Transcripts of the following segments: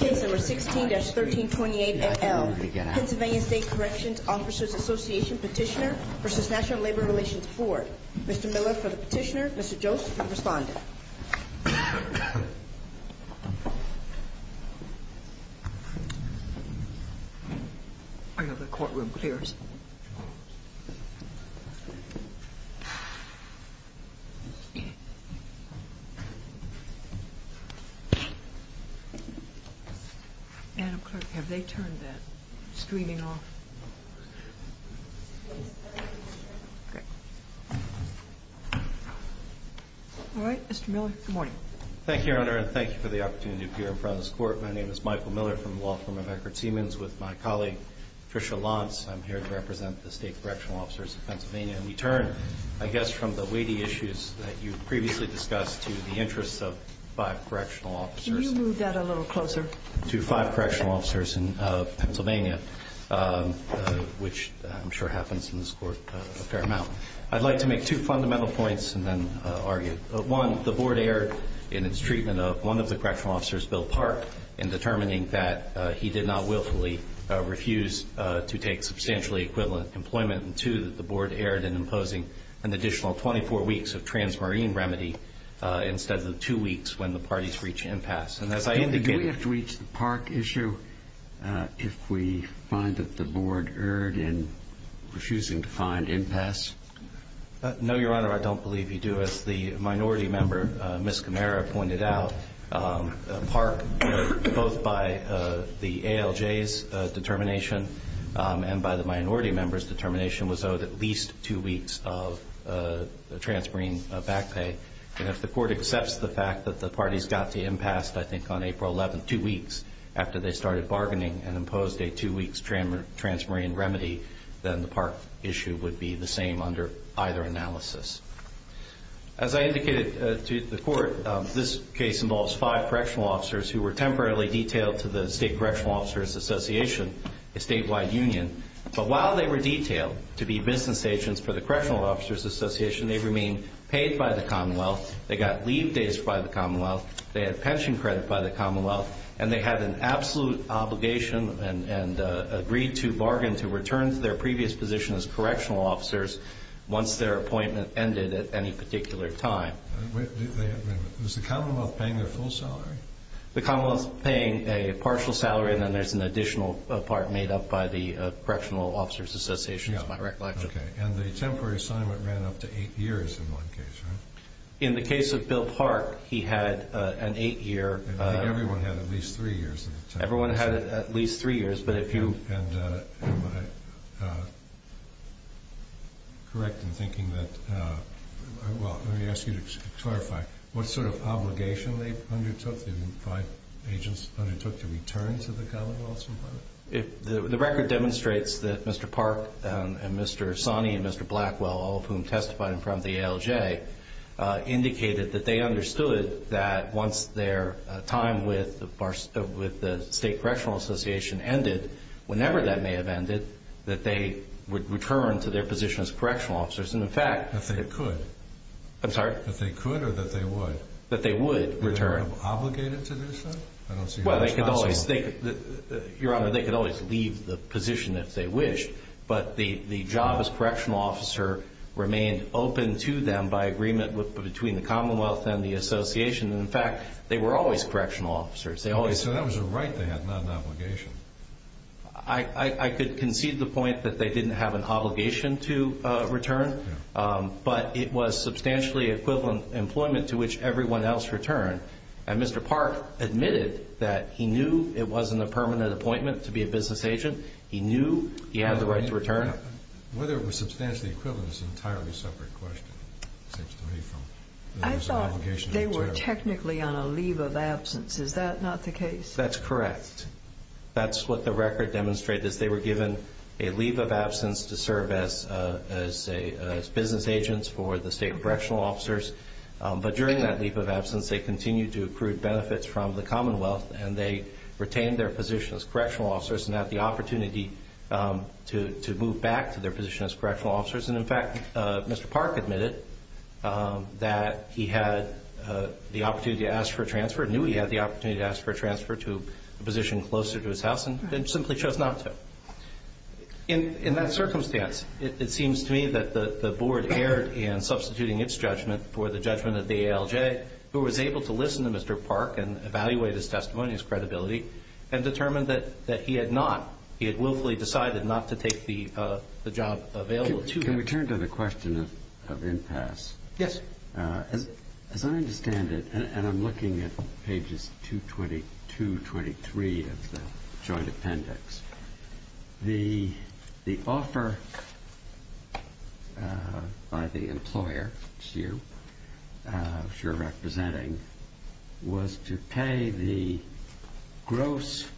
Case No. 16-1328 NL, Pennsylvania State Corrections Officers Association, Petitioner v. National Labor Relations Board Mr. Miller for the petitioner, Mr. Jost for the respondent I know the courtroom clears Madam Clerk, have they turned that screening off? All right, Mr. Miller, good morning. Thank you, Your Honor, and thank you for the opportunity to appear in front of this court. My name is Michael Miller from the Law Firm of Eckerd-Siemens with my colleague, Tricia Lantz. I'm here to represent the State Correctional Officers of Pennsylvania, and we turn, I guess, from the weighty issues that you previously discussed to the interests of Can you move that a little closer? to five correctional officers in Pennsylvania, which I'm sure happens in this court a fair amount. I'd like to make two fundamental points and then argue. One, the Board erred in its treatment of one of the correctional officers, Bill Park, in determining that he did not willfully refuse to take substantially equivalent employment. And two, that the Board erred in imposing an additional 24 weeks of transmarine remedy instead of the two weeks when the parties reach impasse. Do we have to reach the Park issue if we find that the Board erred in refusing to find impasse? No, Your Honor, I don't believe you do. As the minority member, Ms. Camara, pointed out, Park, both by the ALJ's determination and by the minority member's determination, was owed at least two weeks of transmarine back pay. And if the Court accepts the fact that the parties got to impasse, I think, on April 11th, after they started bargaining and imposed a two-weeks transmarine remedy, then the Park issue would be the same under either analysis. As I indicated to the Court, this case involves five correctional officers who were temporarily detailed to the State Correctional Officers Association, a statewide union, but while they were detailed to be business agents for the Correctional Officers Association, they remained paid by the Commonwealth, they got leave days by the Commonwealth, they had pension credit by the Commonwealth, and they had an absolute obligation and agreed to bargain to return to their previous position as correctional officers once their appointment ended at any particular time. Was the Commonwealth paying their full salary? The Commonwealth's paying a partial salary, and then there's an additional part made up by the Correctional Officers Association, which is my recollection. And the temporary assignment ran up to eight years in one case, right? In the case of Bill Park, he had an eight-year... Everyone had at least three years. Everyone had at least three years, but if you... Am I correct in thinking that... Well, let me ask you to clarify. What sort of obligation they undertook, the five agents undertook, to return to the Commonwealth? The record demonstrates that Mr. Park and Mr. Sonny and Mr. Blackwell, all of whom testified in front of the ALJ, indicated that they understood that once their time with the State Correctional Association ended, whenever that may have ended, that they would return to their position as correctional officers. And, in fact... That they could. I'm sorry? That they could or that they would? That they would return. Were they obligated to do so? I don't see how that's possible. Well, they could always... Your Honor, they could always leave the position if they wished, but the job as correctional officer remained open to them by agreement between the Commonwealth and the Association. And, in fact, they were always correctional officers. So that was a right they had, not an obligation. I could concede the point that they didn't have an obligation to return, but it was substantially equivalent employment to which everyone else returned. And Mr. Park admitted that he knew it wasn't a permanent appointment to be a business agent. He knew he had the right to return. Whether it was substantially equivalent is an entirely separate question, it seems to me. I thought they were technically on a leave of absence. Is that not the case? That's correct. That's what the record demonstrated, is they were given a leave of absence to serve as business agents for the state correctional officers. But during that leave of absence, they continued to accrue benefits from the Commonwealth, and they retained their position as correctional officers and had the opportunity to move back to their position as correctional officers. And, in fact, Mr. Park admitted that he had the opportunity to ask for a transfer, knew he had the opportunity to ask for a transfer to a position closer to his house, and simply chose not to. In that circumstance, it seems to me that the Board erred in substituting its judgment for the judgment of the ALJ, who was able to listen to Mr. Park and evaluate his testimony, his credibility, and determined that he had not. He had willfully decided not to take the job available to him. Can we turn to the question of impasse? Yes. As I understand it, and I'm looking at pages 222, 223 of the joint appendix, the offer by the employer, which you're representing, was to pay the gross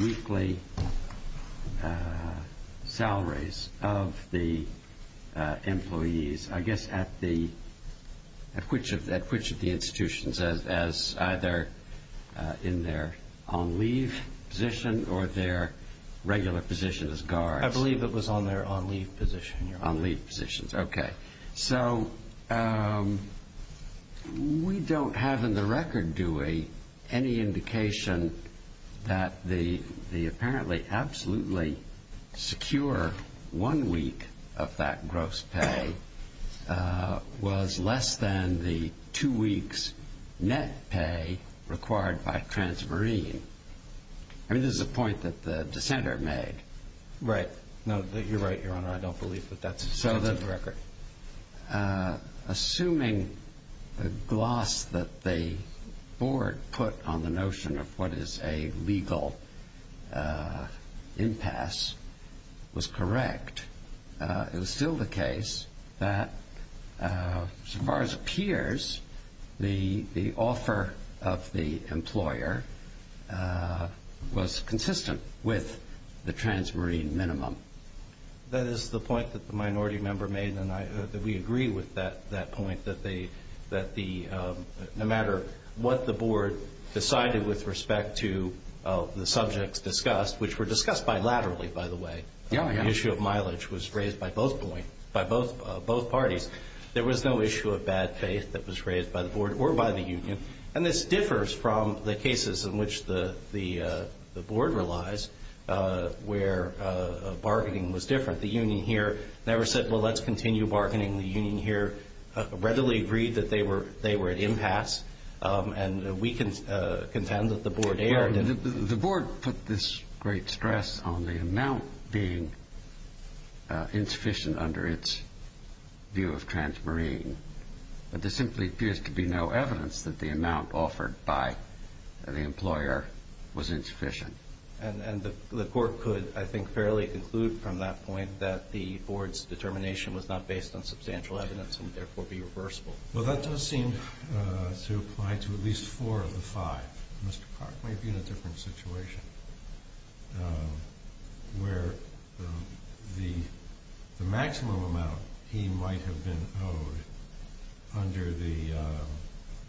weekly salaries of the employees, I guess, at which of the institutions, as either in their on-leave position or their regular position as guards? I believe it was on their on-leave position. On-leave positions, okay. So we don't have in the record, do we, any indication that the apparently absolutely secure one week of that gross pay was less than the two weeks' net pay required by Transmarine. I mean, this is a point that the dissenter made. Right. No, you're right, Your Honor. I don't believe that that's in the record. Assuming the gloss that the board put on the notion of what is a legal impasse was correct, it was still the case that, so far as it appears, the offer of the employer was consistent with the Transmarine minimum. That is the point that the minority member made, and we agree with that point, that no matter what the board decided with respect to the subjects discussed, which were discussed bilaterally, by the way, the issue of mileage was raised by both parties, there was no issue of bad faith that was raised by the board or by the union. And this differs from the cases in which the board relies where bargaining was different. The union here never said, well, let's continue bargaining. The union here readily agreed that they were at impasse, and we can contend that the board erred. The board put this great stress on the amount being insufficient under its view of Transmarine, but there simply appears to be no evidence that the amount offered by the employer was insufficient. And the court could, I think, fairly conclude from that point that the board's determination was not based on substantial evidence and would therefore be reversible. Well, that does seem to apply to at least four of the five. Mr. Clark, maybe in a different situation, where the maximum amount he might have been owed under the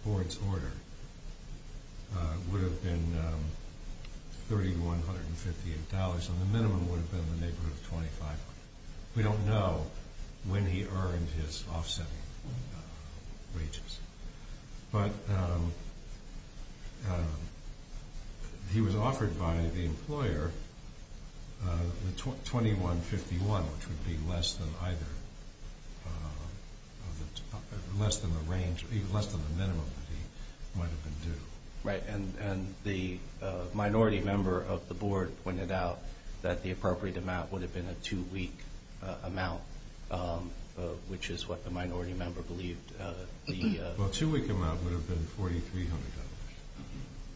board's order would have been $3,158, and the minimum would have been the neighborhood of $2,500. We don't know when he earned his offsetting wages. But he was offered by the employer $2,151, which would be less than the minimum that he might have been due. Right, and the minority member of the board pointed out that the appropriate amount would have been a two-week amount, which is what the minority member believed. Well, a two-week amount would have been $4,300,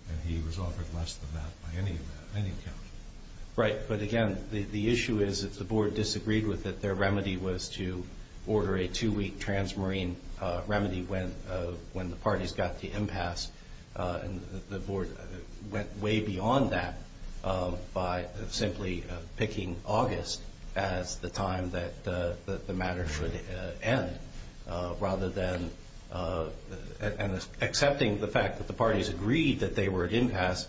and he was offered less than that by any account. Right, but again, the issue is if the board disagreed with it, their remedy was to order a two-week Transmarine remedy when the parties got to impasse. The board went way beyond that by simply picking August as the time that the matter would end, rather than accepting the fact that the parties agreed that they were at impasse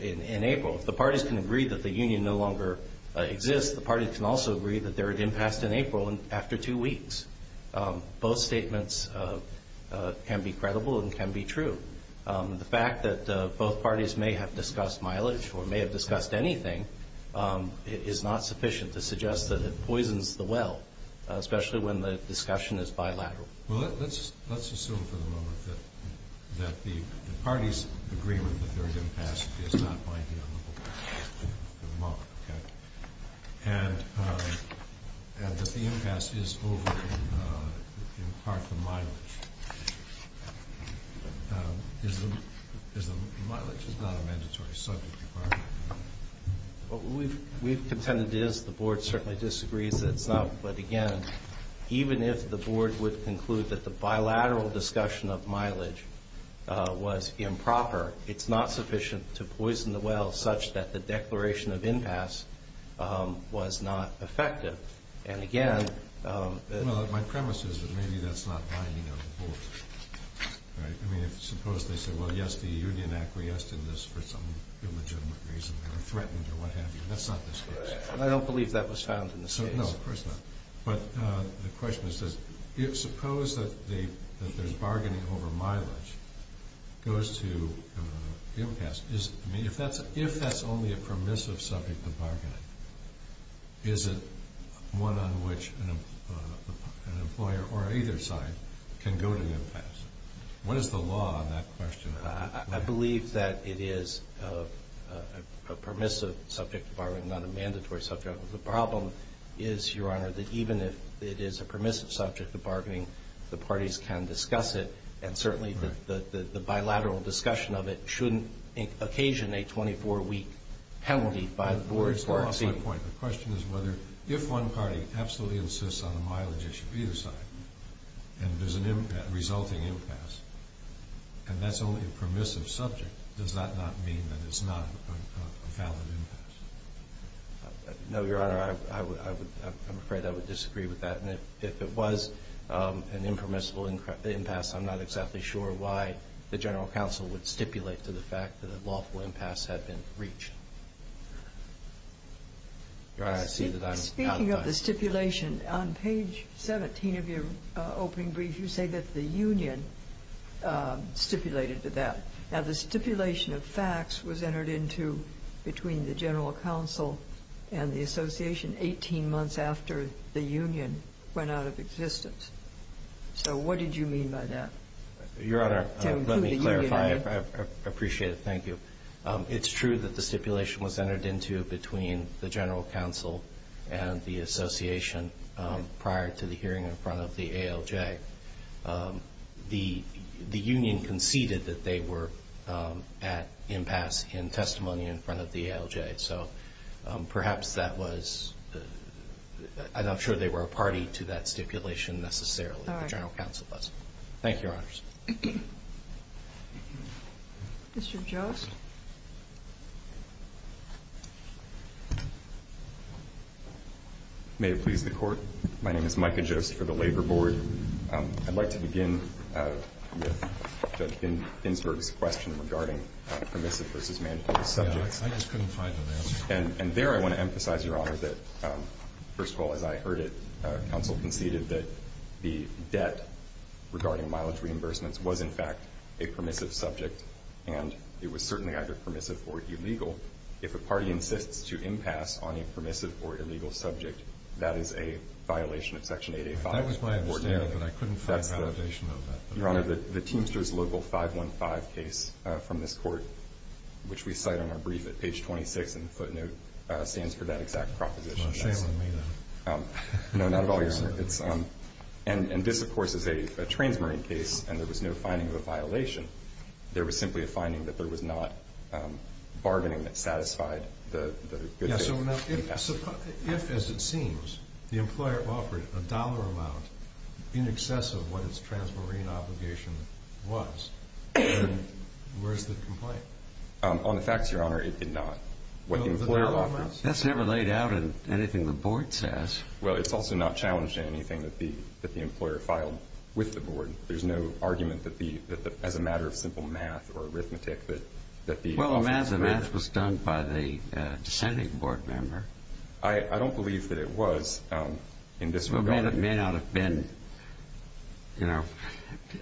in April. If the parties can agree that the union no longer exists, the parties can also agree that they're at impasse in April after two weeks. Both statements can be credible and can be true. The fact that both parties may have discussed mileage or may have discussed anything is not sufficient to suggest that it poisons the well, especially when the discussion is bilateral. Well, let's assume for the moment that the parties' agreement that they're at impasse is not binding on the board. Okay. And that the impasse is over in part the mileage. Is the mileage not a mandatory subject requirement? We've contended it is. The board certainly disagrees that it's not. But again, even if the board would conclude that the bilateral discussion of mileage was improper, it's not sufficient to poison the well such that the declaration of impasse was not effective. And again, Well, my premise is that maybe that's not binding on the board, right? I mean, suppose they say, well, yes, the union acquiesced in this for some illegitimate reason, or threatened, or what have you. That's not the case. I don't believe that was found in the case. No, of course not. But the question is, suppose that there's bargaining over mileage goes to impasse. I mean, if that's only a permissive subject of bargaining, is it one on which an employer or either side can go to impasse? What is the law on that question? I believe that it is a permissive subject of bargaining, not a mandatory subject. The problem is, Your Honor, that even if it is a permissive subject of bargaining, the parties can discuss it. And certainly the bilateral discussion of it shouldn't occasion a 24-week penalty by the board for exceeding. Here's my point. The question is whether if one party absolutely insists on a mileage issue either side, and there's a resulting impasse, and that's only a permissive subject, does that not mean that it's not a valid impasse? No, Your Honor. I'm afraid I would disagree with that. And if it was an impermissible impasse, I'm not exactly sure why the general counsel would stipulate to the fact that a lawful impasse had been breached. Your Honor, I see that I'm out of time. Speaking of the stipulation, on page 17 of your opening brief, you say that the union stipulated to that. Now, the stipulation of facts was entered into between the general counsel and the association 18 months after the union went out of existence. So what did you mean by that? Your Honor, let me clarify. I appreciate it. Thank you. It's true that the stipulation was entered into between the general counsel and the association prior to the hearing in front of the ALJ. The union conceded that they were at impasse in testimony in front of the ALJ. So perhaps that was – I'm not sure they were a party to that stipulation necessarily. All right. The general counsel was. Thank you, Your Honors. Mr. Jost? May it please the Court? My name is Micah Jost for the Labor Board. I'd like to begin with Judge Ginsburg's question regarding permissive versus mandatory subjects. I just couldn't find it there. And there I want to emphasize, Your Honor, that, first of all, as I heard it, counsel conceded that the debt regarding mileage reimbursements was, in fact, a permissive subject, and it was certainly either permissive or illegal. If a party insists to impasse on a permissive or illegal subject, that is a violation of Section 885. That was my understanding, but I couldn't find a validation of that. Your Honor, the Teamsters Local 515 case from this Court, which we cite on our brief at page 26 in the footnote, stands for that exact proposition. You're not shaming me, then. No, not at all, Your Honor. And this, of course, is a Transmarine case, and there was no finding of a violation. There was simply a finding that there was not bargaining that satisfied the good case. Yes, so now if, as it seems, the employer offered a dollar amount in excess of what its Transmarine obligation was, then where is the complaint? On the facts, Your Honor, it did not. What the employer offered. That's never laid out in anything the Board says. Well, it's also not challenged in anything that the employer filed with the Board. There's no argument that the, as a matter of simple math or arithmetic, that the... I don't believe that it was in this regard. Well, it may not have been, you know,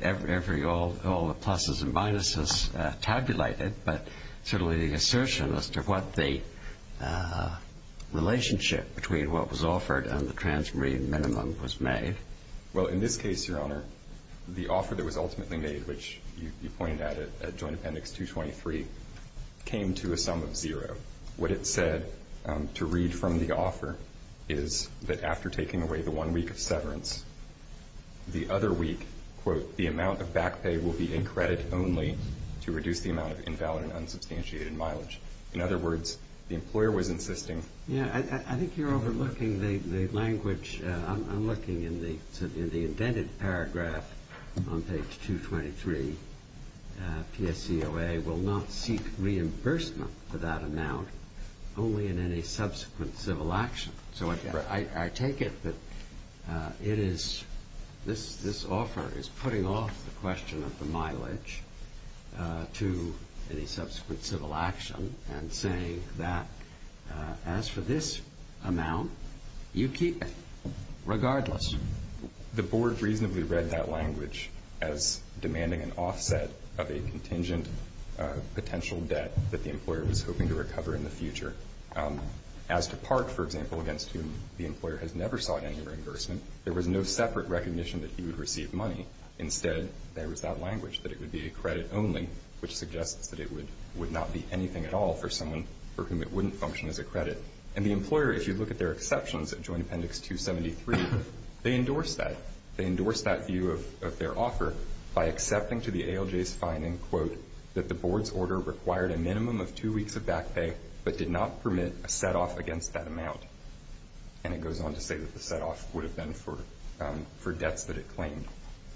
all the pluses and minuses tabulated, but certainly the assertion as to what the relationship between what was offered and the Transmarine minimum was made. Well, in this case, Your Honor, the offer that was ultimately made, which you pointed at at Joint Appendix 223, came to a sum of zero. What it said to read from the offer is that after taking away the one week of severance, the other week, quote, the amount of back pay will be in credit only to reduce the amount of invalid and unsubstantiated mileage. In other words, the employer was insisting... Yeah, I think you're overlooking the language. I'm looking in the indented paragraph on page 223. PSEOA will not seek reimbursement for that amount only in any subsequent civil action. So I take it that it is... this offer is putting off the question of the mileage to any subsequent civil action and saying that as for this amount, you keep it regardless. The board reasonably read that language as demanding an offset of a contingent potential debt that the employer was hoping to recover in the future. As to Park, for example, against whom the employer has never sought any reimbursement, there was no separate recognition that he would receive money. Instead, there was that language that it would be a credit only, which suggests that it would not be anything at all for someone for whom it wouldn't function as a credit. And the employer, if you look at their exceptions at Joint Appendix 273, they endorsed that. They endorsed that view of their offer by accepting to the ALJ's finding, quote, that the board's order required a minimum of two weeks of back pay but did not permit a set-off against that amount. And it goes on to say that the set-off would have been for debts that it claimed.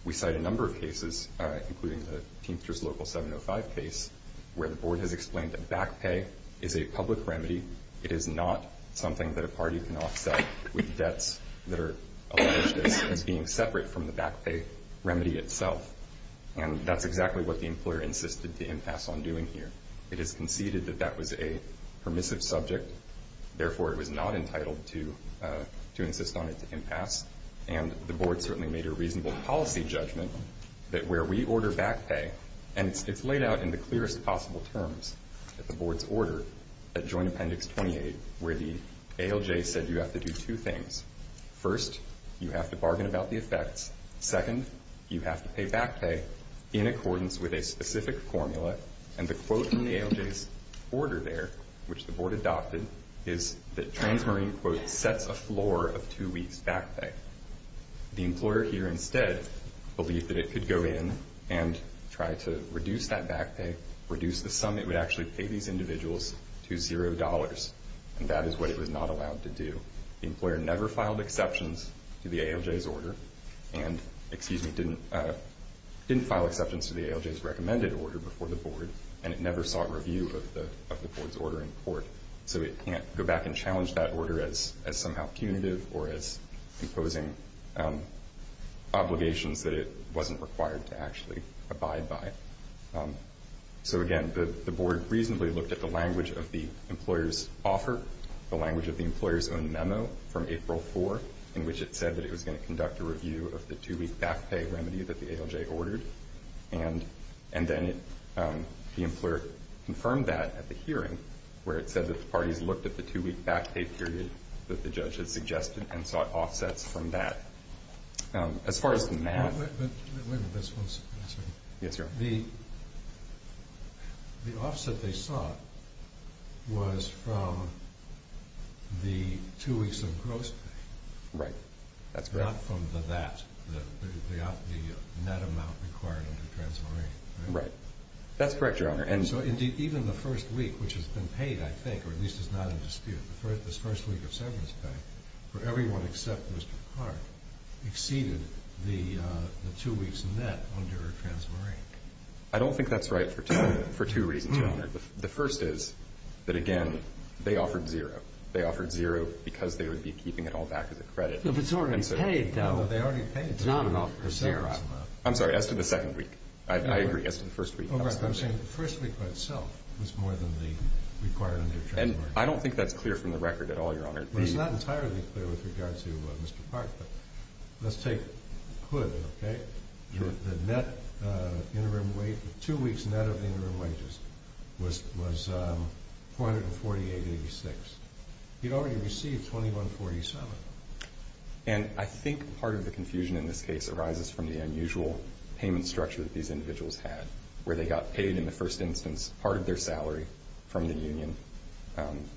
We cite a number of cases, including the Teamsters Local 705 case, where the board has explained that back pay is a public remedy. It is not something that a party can offset with debts that are alleged as being separate from the back pay remedy itself. And that's exactly what the employer insisted to impasse on doing here. It is conceded that that was a permissive subject. Therefore, it was not entitled to insist on its impasse. And the board certainly made a reasonable policy judgment that where we order back pay, and it's laid out in the clearest possible terms at the board's order at Joint Appendix 28, where the ALJ said you have to do two things. First, you have to bargain about the effects. Second, you have to pay back pay in accordance with a specific formula. And the quote in the ALJ's order there, which the board adopted, is that Transmarine, quote, sets a floor of two weeks back pay. The employer here instead believed that it could go in and try to reduce that back pay, reduce the sum it would actually pay these individuals to $0, and that is what it was not allowed to do. The employer never filed exceptions to the ALJ's order and, excuse me, didn't file exceptions to the ALJ's recommended order before the board, and it never sought review of the board's order in court. So it can't go back and challenge that order as somehow punitive or as imposing obligations that it wasn't required to actually abide by. So, again, the board reasonably looked at the language of the employer's offer, the language of the employer's own memo from April 4, in which it said that it was going to conduct a review of the two-week back pay remedy that the ALJ ordered. And then the employer confirmed that at the hearing, where it said that the parties looked at the two-week back pay period that the judge had suggested and sought offsets from that. As far as the math... Wait a minute, just one second. Yes, Your Honor. The offset they sought was from the two weeks of gross pay. Right. Not from the VAT, the net amount required under Transmarine. Right. That's correct, Your Honor. So, indeed, even the first week, which has been paid, I think, or at least is not in dispute, this first week of severance pay for everyone except Mr. Clark exceeded the two weeks net under Transmarine. I don't think that's right for two reasons, Your Honor. The first is that, again, they offered zero. They offered zero because they would be keeping it all back as a credit. If it's already paid, though. No, they already paid. It's not an offer for zero. I'm sorry, as to the second week. I agree. As to the first week. I'm saying the first week by itself was more than the required under Transmarine. And I don't think that's clear from the record at all, Your Honor. Well, it's not entirely clear with regard to Mr. Clark, but let's take Hood, okay? The net interim wage, the two weeks net of the interim wages was $448.86. You'd already received $2147. And I think part of the confusion in this case arises from the unusual payment structure that these individuals had, where they got paid in the first instance part of their salary from the union,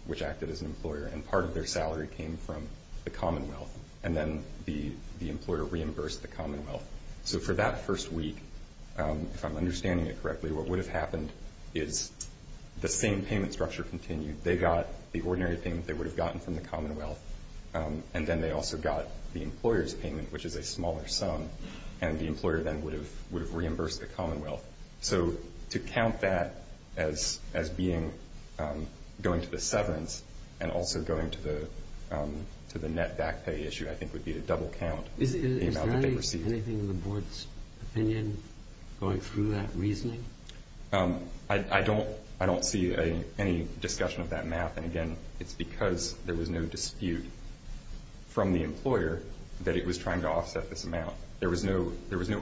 which acted as an employer, and part of their salary came from the Commonwealth, and then the employer reimbursed the Commonwealth. So for that first week, if I'm understanding it correctly, what would have happened is the same payment structure continued. They got the ordinary payment they would have gotten from the Commonwealth, and then they also got the employer's payment, which is a smaller sum, and the employer then would have reimbursed the Commonwealth. So to count that as being going to the severance and also going to the net back pay issue, I think would be to double count the amount that they received. Is there anything in the Board's opinion going through that reasoning? I don't see any discussion of that math. And, again, it's because there was no dispute from the employer that it was trying to offset this amount. There was no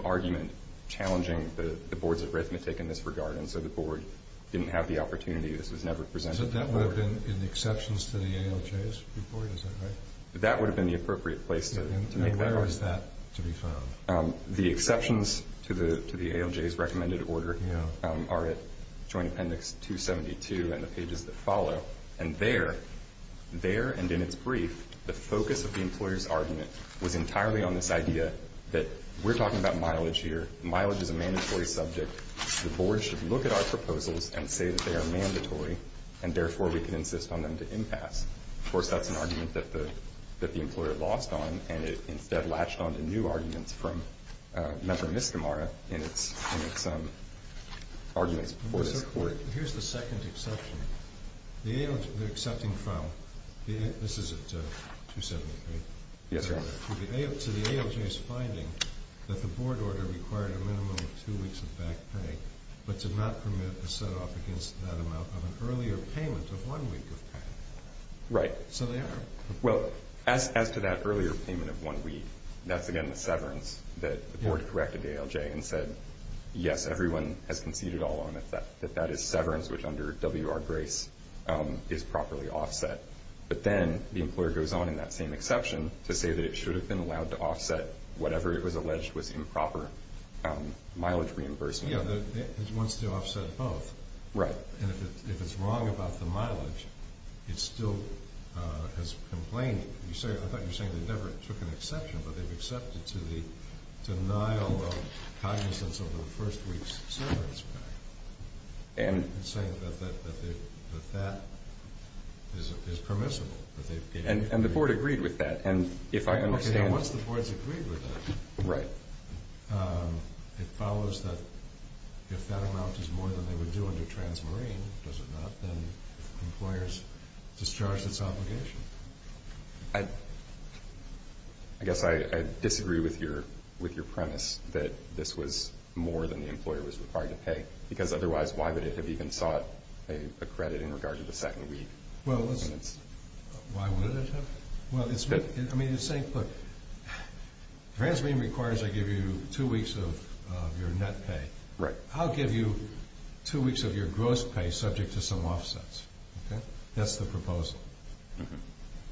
argument challenging the Board's arithmetic in this regard, and so the Board didn't have the opportunity. This was never presented to the Board. So that would have been in the exceptions to the ALJ's report, is that right? That would have been the appropriate place to make that argument. And where was that to be found? The exceptions to the ALJ's recommended order are at Joint Appendix 272 and the pages that follow. And there and in its brief, the focus of the employer's argument was entirely on this idea that we're talking about mileage here. Mileage is a mandatory subject. The Board should look at our proposals and say that they are mandatory, and therefore we can insist on them to impasse. Of course, that's an argument that the employer lost on, and it instead latched on to new arguments from Member Miskimara in its arguments before this Court. Here's the second exception. The ALJ, they're accepting from, this is at 273. Yes, Your Honor. To the ALJ's finding that the Board order required a minimum of two weeks of back pay, but did not permit a set-off against that amount of an earlier payment of one week of pay. Right. So they are. Well, as to that earlier payment of one week, that's, again, the severance that the Board corrected the ALJ and said, yes, everyone has conceded all on it, that that is severance, which under W.R. Grace is properly offset. But then the employer goes on in that same exception to say that it should have been allowed to offset whatever it was alleged was improper mileage reimbursement. It wants to offset both. Right. And if it's wrong about the mileage, it still has complained. I thought you were saying they never took an exception, but they've accepted to the denial of cognizance over the first week's severance pay. And? And saying that that is permissible. And the Board agreed with that, and if I understand. Okay, now once the Board's agreed with that. Right. It follows that if that amount is more than they would do under Transmarine, does it not? Then employers discharge this obligation. I guess I disagree with your premise that this was more than the employer was required to pay, because otherwise why would it have even sought a credit in regard to the second week? Well, why would it have? Well, I mean, the same thing. Transmarine requires they give you two weeks of your net pay. Right. I'll give you two weeks of your gross pay subject to some offsets. That's the proposal.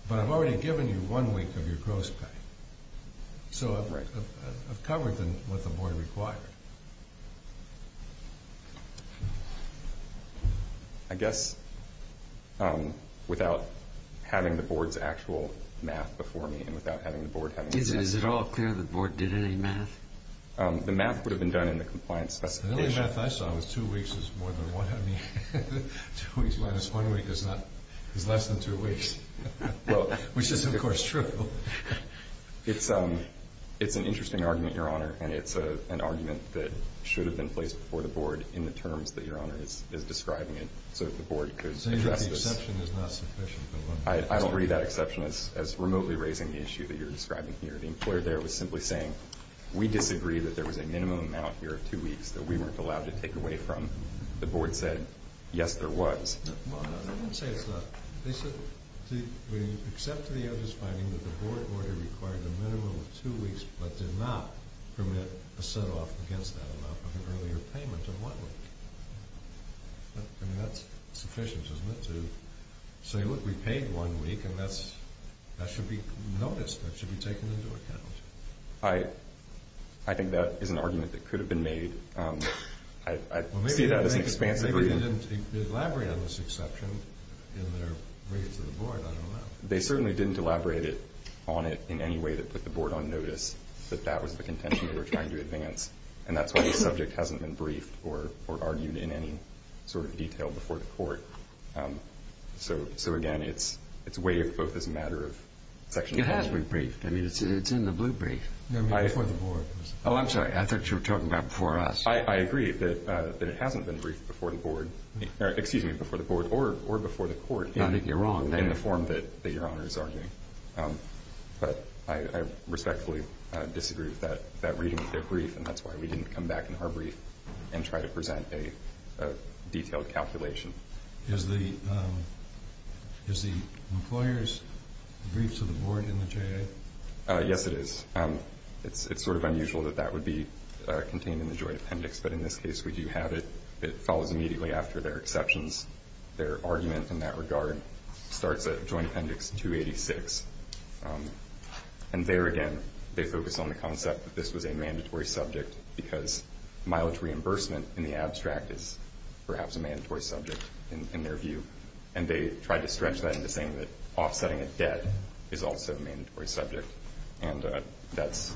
But I've already given you one week of your gross pay. So I've covered what the Board required. I guess without having the Board's actual math before me and without having the Board having the math. Is it at all clear the Board did any math? The math would have been done in the compliance specification. The only math I saw was two weeks is more than one. I mean, two weeks minus one week is less than two weeks, which is, of course, true. It's an interesting argument, Your Honor, and it's an argument that the Board that should have been placed before the Board in the terms that Your Honor is describing it so that the Board could address this. So you're saying the exception is not sufficient? I don't read that exception as remotely raising the issue that you're describing here. The employer there was simply saying, we disagree that there was a minimum amount here of two weeks that we weren't allowed to take away from. The Board said, yes, there was. Well, no, they didn't say it's not. They said, except to the evidence finding that the Board order required a minimum of two weeks but did not permit a set-off against that amount of an earlier payment of one week. I mean, that's sufficient, isn't it, to say, look, we paid one week, and that should be noticed. That should be taken into account. I think that is an argument that could have been made. I see that as an expansive argument. Well, maybe they didn't elaborate on this exception in their reading to the Board. I don't know. They certainly didn't elaborate on it in any way that put the Board on notice that that was the contention they were trying to advance, and that's why the subject hasn't been briefed or argued in any sort of detail before the Court. So, again, it's waived both as a matter of section 12. It has been briefed. I mean, it's in the blue brief. I mean, before the Board. Oh, I'm sorry. I thought you were talking about before us. I agree that it hasn't been briefed before the Board. Excuse me, before the Board or before the Court. I think you're wrong. In the form that Your Honor is arguing. But I respectfully disagree with that reading of their brief, and that's why we didn't come back in our brief and try to present a detailed calculation. Is the employer's brief to the Board in the J.A.? Yes, it is. It's sort of unusual that that would be contained in the Joy Appendix, but in this case we do have it. It follows immediately after their exceptions. Their argument in that regard starts at Joy Appendix 286, and there again they focus on the concept that this was a mandatory subject because mileage reimbursement in the abstract is perhaps a mandatory subject in their view, and they tried to stretch that into saying that offsetting a debt is also a mandatory subject, and that's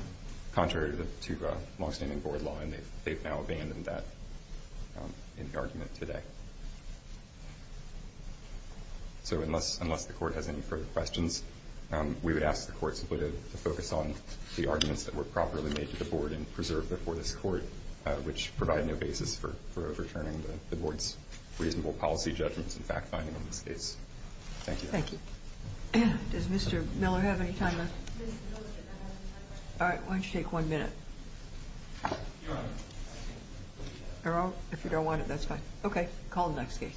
contrary to longstanding Board law, and they've now abandoned that in the argument today. So unless the Court has any further questions, we would ask the Court simply to focus on the arguments that were properly made to the Board and preserved before this Court, which provide no basis for overturning the Board's reasonable policy judgments and fact-finding in this case. Thank you. Thank you. Does Mr. Miller have any time left? All right, why don't you take one minute? If you don't want it, that's fine. Okay, call the next case.